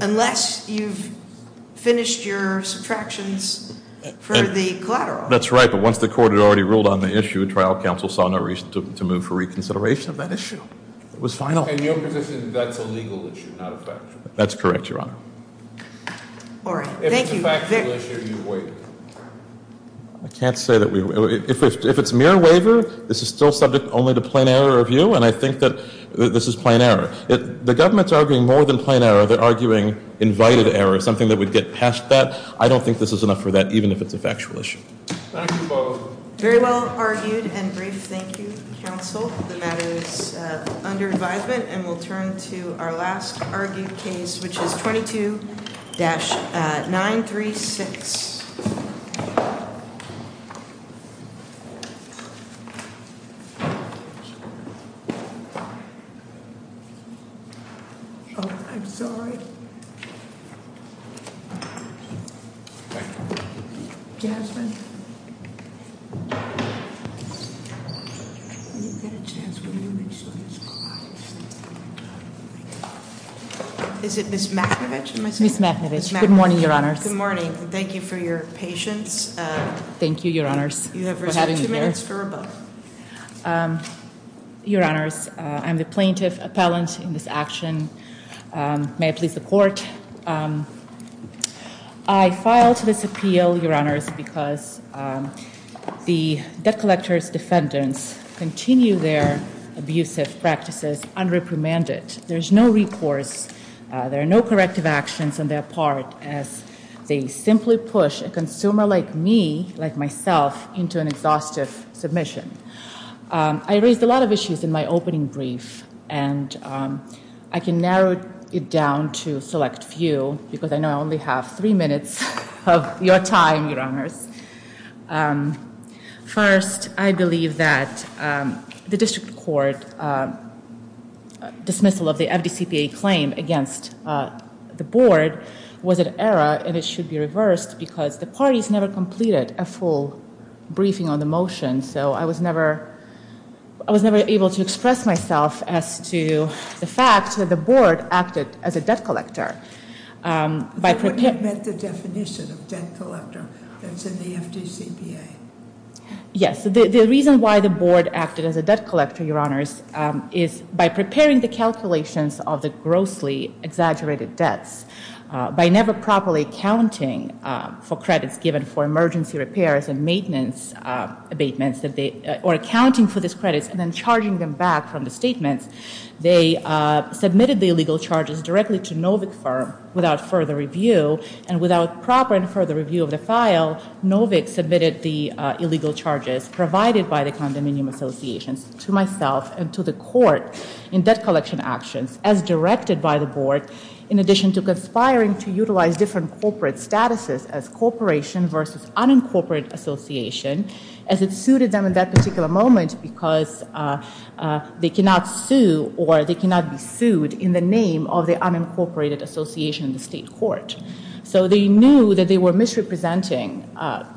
unless you've finished your subtractions for the collateral. That's right, but once the court had already ruled on the issue, trial counsel saw no reason to move for reconsideration of that issue. It was final. In your position, that's a legal issue, not a factual issue. That's correct, Your Honor. All right. Thank you. If it's a factual issue, you waive it. I can't say that we, if it's mere waiver, this is still subject only to plain error of view, and I think that this is plain error. The government's arguing more than plain error. They're arguing invited error, something that would get past that. I don't think this is enough for that, even if it's a factual issue. Thank you, both. Very well argued and brief. Thank you, counsel. The matter is under advisement, and we'll turn to our last argued case, which is 22-936. Oh, I'm sorry. Jasmine. Is it Ms. Makhnovich, am I saying? Ms. Makhnovich. Good morning, Your Honors. Good morning. Thank you for your patience. Thank you, Your Honors, for having me here. You have reserved two minutes for a vote. Your Honors, I'm the plaintiff appellant in this action. May I please support? I file this appeal, Your Honors, because the debt collector's defendants continue their abusive practices unreprimanded. There's no recourse. There are no corrective actions on their part, as they simply push a consumer like me, like myself, into an exhaustive submission. I raised a lot of issues in my opening brief, and I can narrow it down to a select few, because I know I only have three minutes of your time, Your Honors. First, I believe that the district court dismissal of the FDCPA claim against the board was an error, and it should be reversed, because the parties never completed a full briefing on the motion. So I was never able to express myself as to the fact that the board acted as a debt collector. That wouldn't have met the definition of debt collector that's in the FDCPA. Yes, the reason why the board acted as a debt collector, Your Honors, is by preparing the calculations of the grossly exaggerated debts. By never properly accounting for credits given for emergency repairs and maintenance abatements, or accounting for these credits and then charging them back from the statements, they submitted the illegal charges directly to Novick Firm without further review. And without proper and further review of the file, Novick submitted the illegal charges provided by the condominium associations to myself and to the court in debt collection actions as directed by the board in addition to conspiring to utilize different corporate statuses as corporation versus unincorporated association as it suited them in that particular moment because they cannot sue or they cannot be sued in the name of the unincorporated association in the state court. So they knew that they were misrepresenting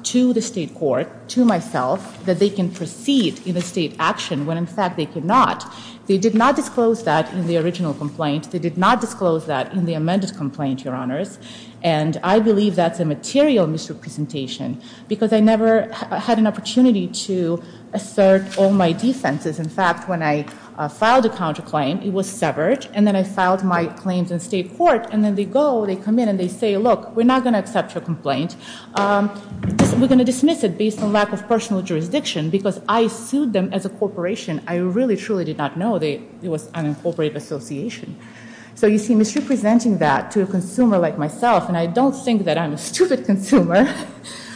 to the state court, to myself, that they can proceed in a state action when in fact they cannot. They did not disclose that in the original complaint. They did not disclose that in the amended complaint, Your Honors. And I believe that's a material misrepresentation because I never had an opportunity to assert all my defenses. In fact, when I filed a counterclaim, it was severed. And then I filed my claims in state court. And then they go, they come in and they say, look, we're not going to accept your complaint. We're going to dismiss it based on lack of personal jurisdiction because I sued them as a corporation. I really, truly did not know it was an unincorporated association. So you see, misrepresenting that to a consumer like myself, and I don't think that I'm a stupid consumer,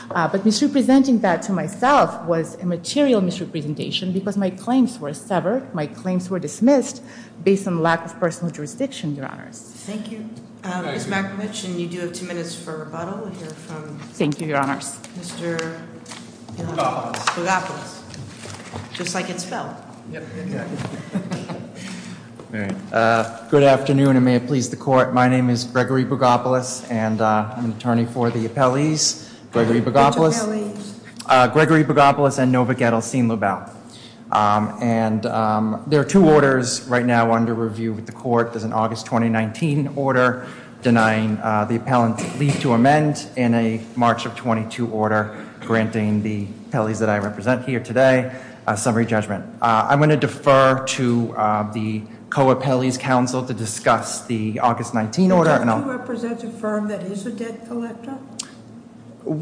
but misrepresenting that to myself was a material misrepresentation because my claims were severed. My claims were dismissed based on lack of personal jurisdiction, Your Honors. Thank you. Ms. McMitch, and you do have two minutes for rebuttal. We'll hear from- Thank you, Your Honors. Mr. Bogopoulos. Bogopoulos. Just like it's spelled. Yep, exactly. All right. Good afternoon, and may it please the court. My name is Gregory Bogopoulos, and I'm an attorney for the appellees. Gregory Bogopoulos- Which appellees? Gregory Bogopoulos and Nova Gettelstein-Lubell. And there are two orders right now under review with the court. There's an August 2019 order denying the appellant leave to amend, and a March of 22 order granting the appellees that I represent here today a summary judgment. I'm going to defer to the Co-Appellees Council to discuss the August 19 order, and I'll- Don't you represent a firm that is a debt collector?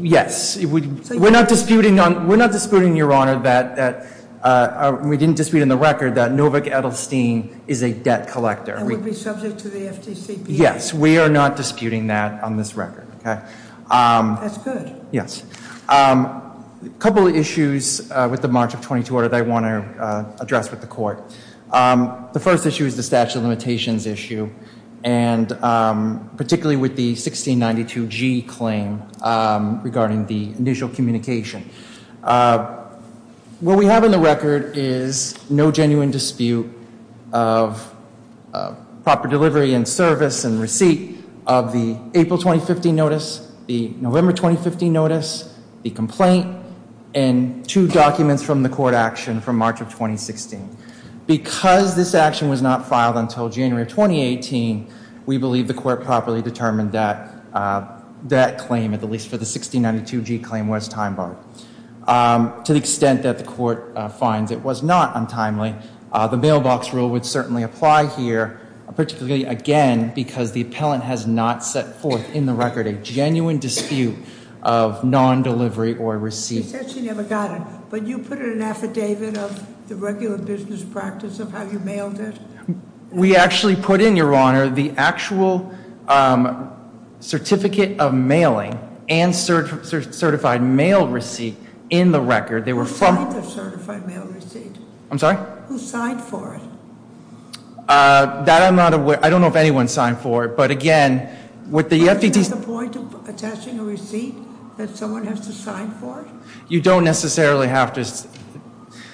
Yes. We're not disputing, Your Honor, that- We didn't dispute in the record that Nova Gettelstein is a debt collector. And would be subject to the FDCPA? Yes, we are not disputing that on this record, okay? That's good. Yes. A couple of issues with the March of 22 order that I want to address with the court. The first issue is the statute of limitations issue, and particularly with the 1692G claim regarding the initial communication. What we have in the record is no genuine dispute of proper delivery and service and receipt of the April 2015 notice, the November 2015 notice, the complaint, and two documents from the court action from March of 2016. Because this action was not filed until January 2018, we believe the court properly determined that that claim, at least for the 1692G claim, was time barred. To the extent that the court finds it was not untimely, the mailbox rule would certainly apply here, particularly, again, because the appellant has not set forth in the record a genuine dispute of non-delivery or receipt. He said she never got it, but you put in an affidavit of the regular business practice of how you mailed it? We actually put in, Your Honor, the actual certificate of mailing and certified mail receipt in the record. They were from- Who signed the certified mail receipt? I'm sorry? Who signed for it? That I'm not aware. I don't know if anyone signed for it, but again, with the FD- Is there a point of attaching a receipt that someone has to sign for it? You don't necessarily have to.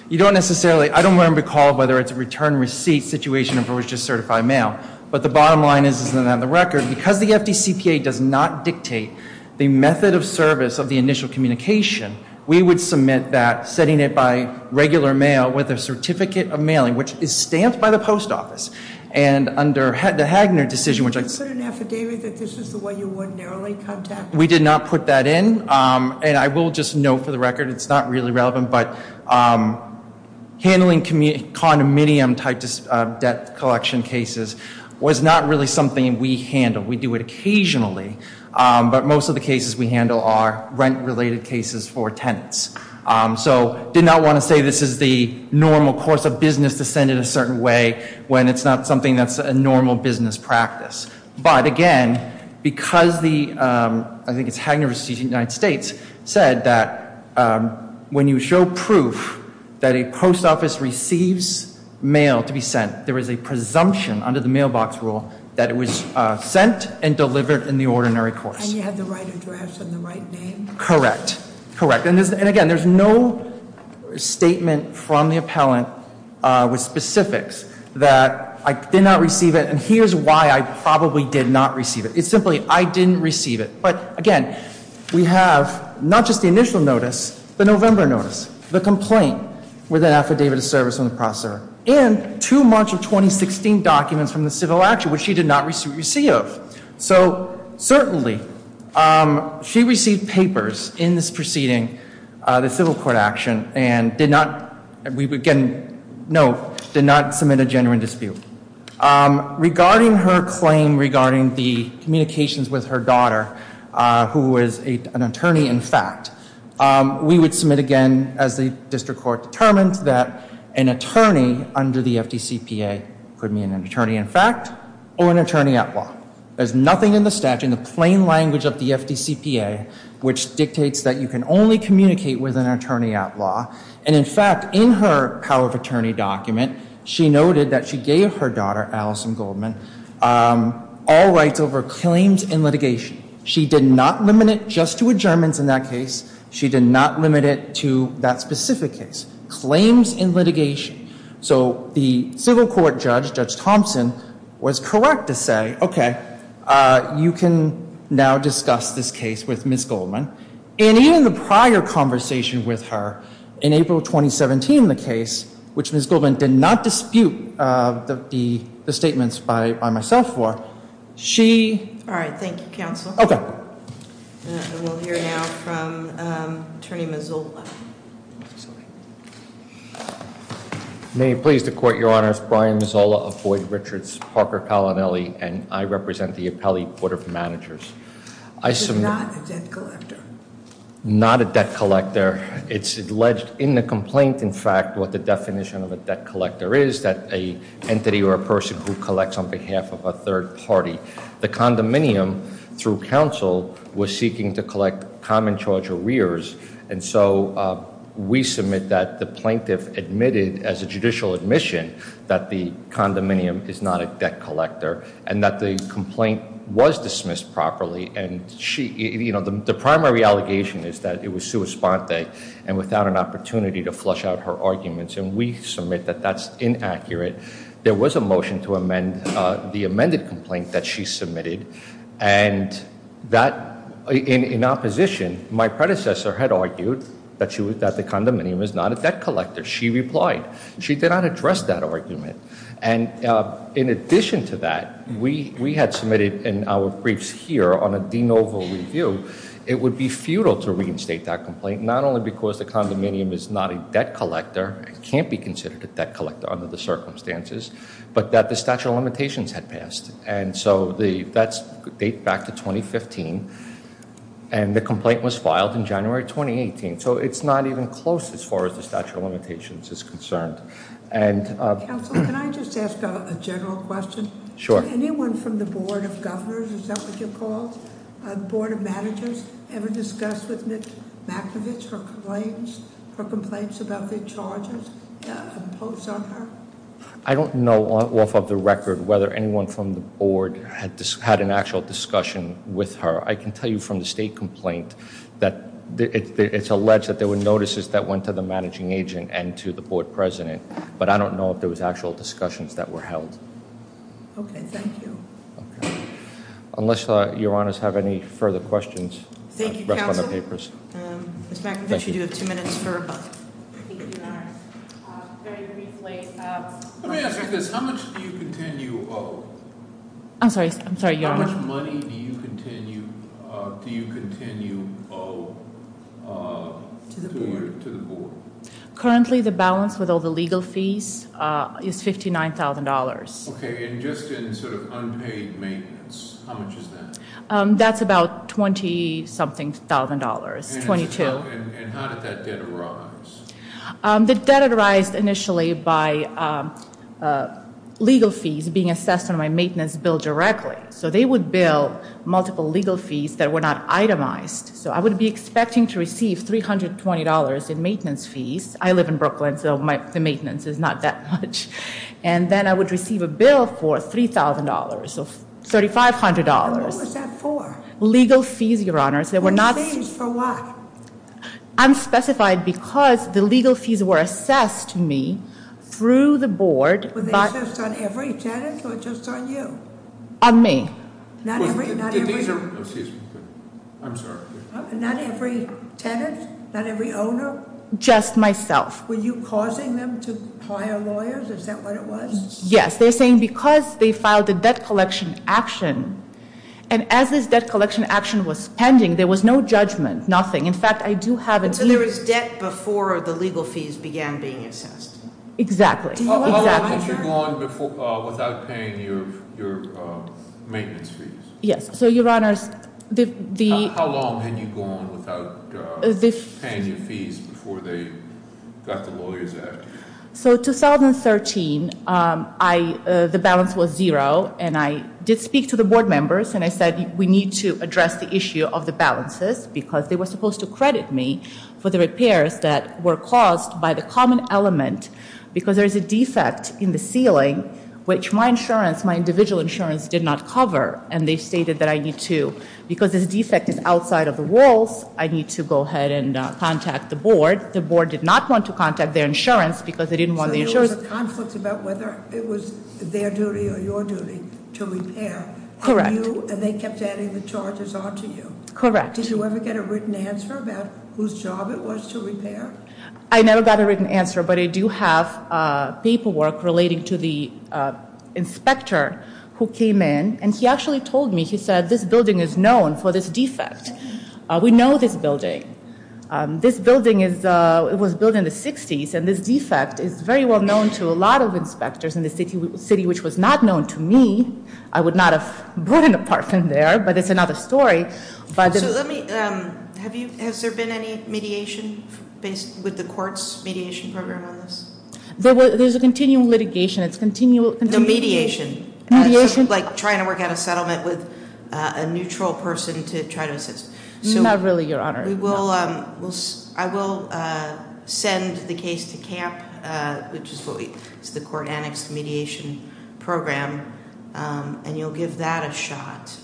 You don't necessarily, I don't recall whether it's a return receipt situation or if it was just certified mail. But the bottom line is, is that on the record, because the FDCPA does not dictate the method of service of the initial communication, we would submit that setting it by regular mail with a certificate of mailing, which is stamped by the post office. And under the Hagner decision, which I- You put an affidavit that this is the way you would narrowly contact- We did not put that in, and I will just note for the record it's not really relevant. But handling condominium type debt collection cases was not really something we handled. We do it occasionally, but most of the cases we handle are rent-related cases for tenants. So did not want to say this is the normal course of business to send it a certain way when it's not something that's a normal business practice. But again, because the, I think it's Hagner v. United States, said that when you show proof that a post office receives mail to be sent, there is a presumption under the mailbox rule that it was sent and delivered in the ordinary course. And you have the right address and the right name? Correct, correct. And again, there's no statement from the appellant with specifics that I did not receive it. And here's why I probably did not receive it. It's simply I didn't receive it. But again, we have not just the initial notice, the November notice, the complaint with an affidavit of service from the prosecutor, and two March of 2016 documents from the civil action, which she did not receive. So certainly, she received papers in this proceeding, the civil court action, and did not, we can note, did not submit a genuine dispute. Regarding her claim regarding the communications with her daughter, who is an attorney in fact, we would submit again, as the district court determined, that an attorney under the FDCPA could mean an attorney in fact or an attorney at law. There's nothing in the statute, in the plain language of the FDCPA, which dictates that you can only communicate with an attorney at law. And in fact, in her power of attorney document, she noted that she gave her daughter, Allison Goldman, all rights over claims in litigation. She did not limit it just to adjournments in that case. She did not limit it to that specific case, claims in litigation. So the civil court judge, Judge Thompson, was correct to say, okay, you can now discuss this case with Ms. Goldman. And even the prior conversation with her, in April 2017 in the case, which Ms. Goldman did not dispute the statements by myself for, she- All right, thank you, counsel. Okay. And we'll hear now from Attorney Mazzola. May it please the court, your honors. Brian Mazzola of Boyd Richards, Parker Palanelli, and I represent the appellee board of managers. I submit- He's not a debt collector. Not a debt collector. It's alleged in the complaint, in fact, what the definition of a debt collector is, that a entity or a person who collects on behalf of a third party. The condominium, through counsel, was seeking to collect common charge arrears. And so we submit that the plaintiff admitted, as a judicial admission, that the condominium is not a debt collector and that the complaint was dismissed properly. And the primary allegation is that it was sua sponte and without an opportunity to flush out her arguments, and we submit that that's inaccurate. There was a motion to amend the amended complaint that she submitted and that in opposition, my predecessor had argued that the condominium is not a debt collector. She replied. She did not address that argument. And in addition to that, we had submitted in our briefs here on a de novo review. It would be futile to reinstate that complaint, not only because the condominium is not a debt collector, it can't be considered a debt collector under the circumstances, but that the statute of limitations had passed. And so that's date back to 2015, and the complaint was filed in January 2018. So it's not even close as far as the statute of limitations is concerned. And- Council, can I just ask a general question? Sure. Anyone from the Board of Governors, is that what you're called? Board of Managers ever discussed with Ms. Mankiewicz her complaints about the charges imposed on her? I don't know off of the record whether anyone from the board had an actual discussion with her. I can tell you from the state complaint that it's alleged that there were notices that went to the managing agent and to the board president. But I don't know if there was actual discussions that were held. Okay, thank you. Unless your honors have any further questions- Thank you, counsel. Ms. Mankiewicz, you do have two minutes for a question. Thank you, your honor. Very briefly- Let me ask you this. How much do you continue to owe? I'm sorry, your honor. How much money do you continue to owe to the board? Currently, the balance with all the legal fees is $59,000. Okay, and just in sort of unpaid maintenance, how much is that? That's about $20-something thousand dollars, $22. And how did that debt arise? The debt arised initially by legal fees being assessed on my maintenance bill directly. So they would bill multiple legal fees that were not itemized. So I would be expecting to receive $320 in maintenance fees. I live in Brooklyn, so the maintenance is not that much. And then I would receive a bill for $3,000, so $3,500. And what was that for? Legal fees, your honors. Legal fees for what? I'm specified because the legal fees were assessed to me through the board- Were they assessed on every tenant or just on you? On me. Not every tenant? Not every owner? Just myself. Were you causing them to hire lawyers? Is that what it was? Yes, they're saying because they filed a debt collection action. And as this debt collection action was pending, there was no judgment, nothing. In fact, I do have a- So there was debt before the legal fees began being assessed? Exactly. How long had you gone without paying your maintenance fees? Yes, so your honors, the- How long had you gone without paying your fees before they got the lawyers after? So 2013, the balance was zero. And I did speak to the board members and I said we need to address the issue of the balances because they were supposed to credit me for the repairs that were caused by the common element because there's a defect in the ceiling which my insurance, my individual insurance did not cover. And they stated that I need to, because this defect is outside of the rules, I need to go ahead and contact the board. The board did not want to contact their insurance because they didn't want the insurance- So there was a conflict about whether it was their duty or your duty to repair. Correct. And they kept adding the charges on to you. Correct. Did you ever get a written answer about whose job it was to repair? I never got a written answer, but I do have paperwork relating to the inspector who came in. And he actually told me, he said this building is known for this defect. We know this building. This building was built in the 60s and this defect is very well known to a lot of inspectors in the city, which was not known to me. I would not have bought an apartment there, but it's another story. So let me, has there been any mediation with the court's mediation program on this? There's a continual litigation, it's continual- No, mediation. Mediation? Like trying to work out a settlement with a neutral person to try to assist. Not really, your honor. We will, I will send the case to camp, which is what we, it's the court annexed mediation program, and you'll give that a shot.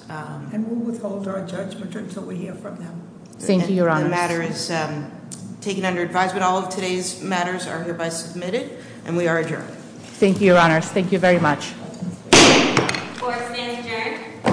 And we'll withhold our judgment until we hear from them. Thank you, your honor. The matter is taken under advisement. All of today's matters are hereby submitted, and we are adjourned. Thank you, your honors. Thank you very much. Court is adjourned.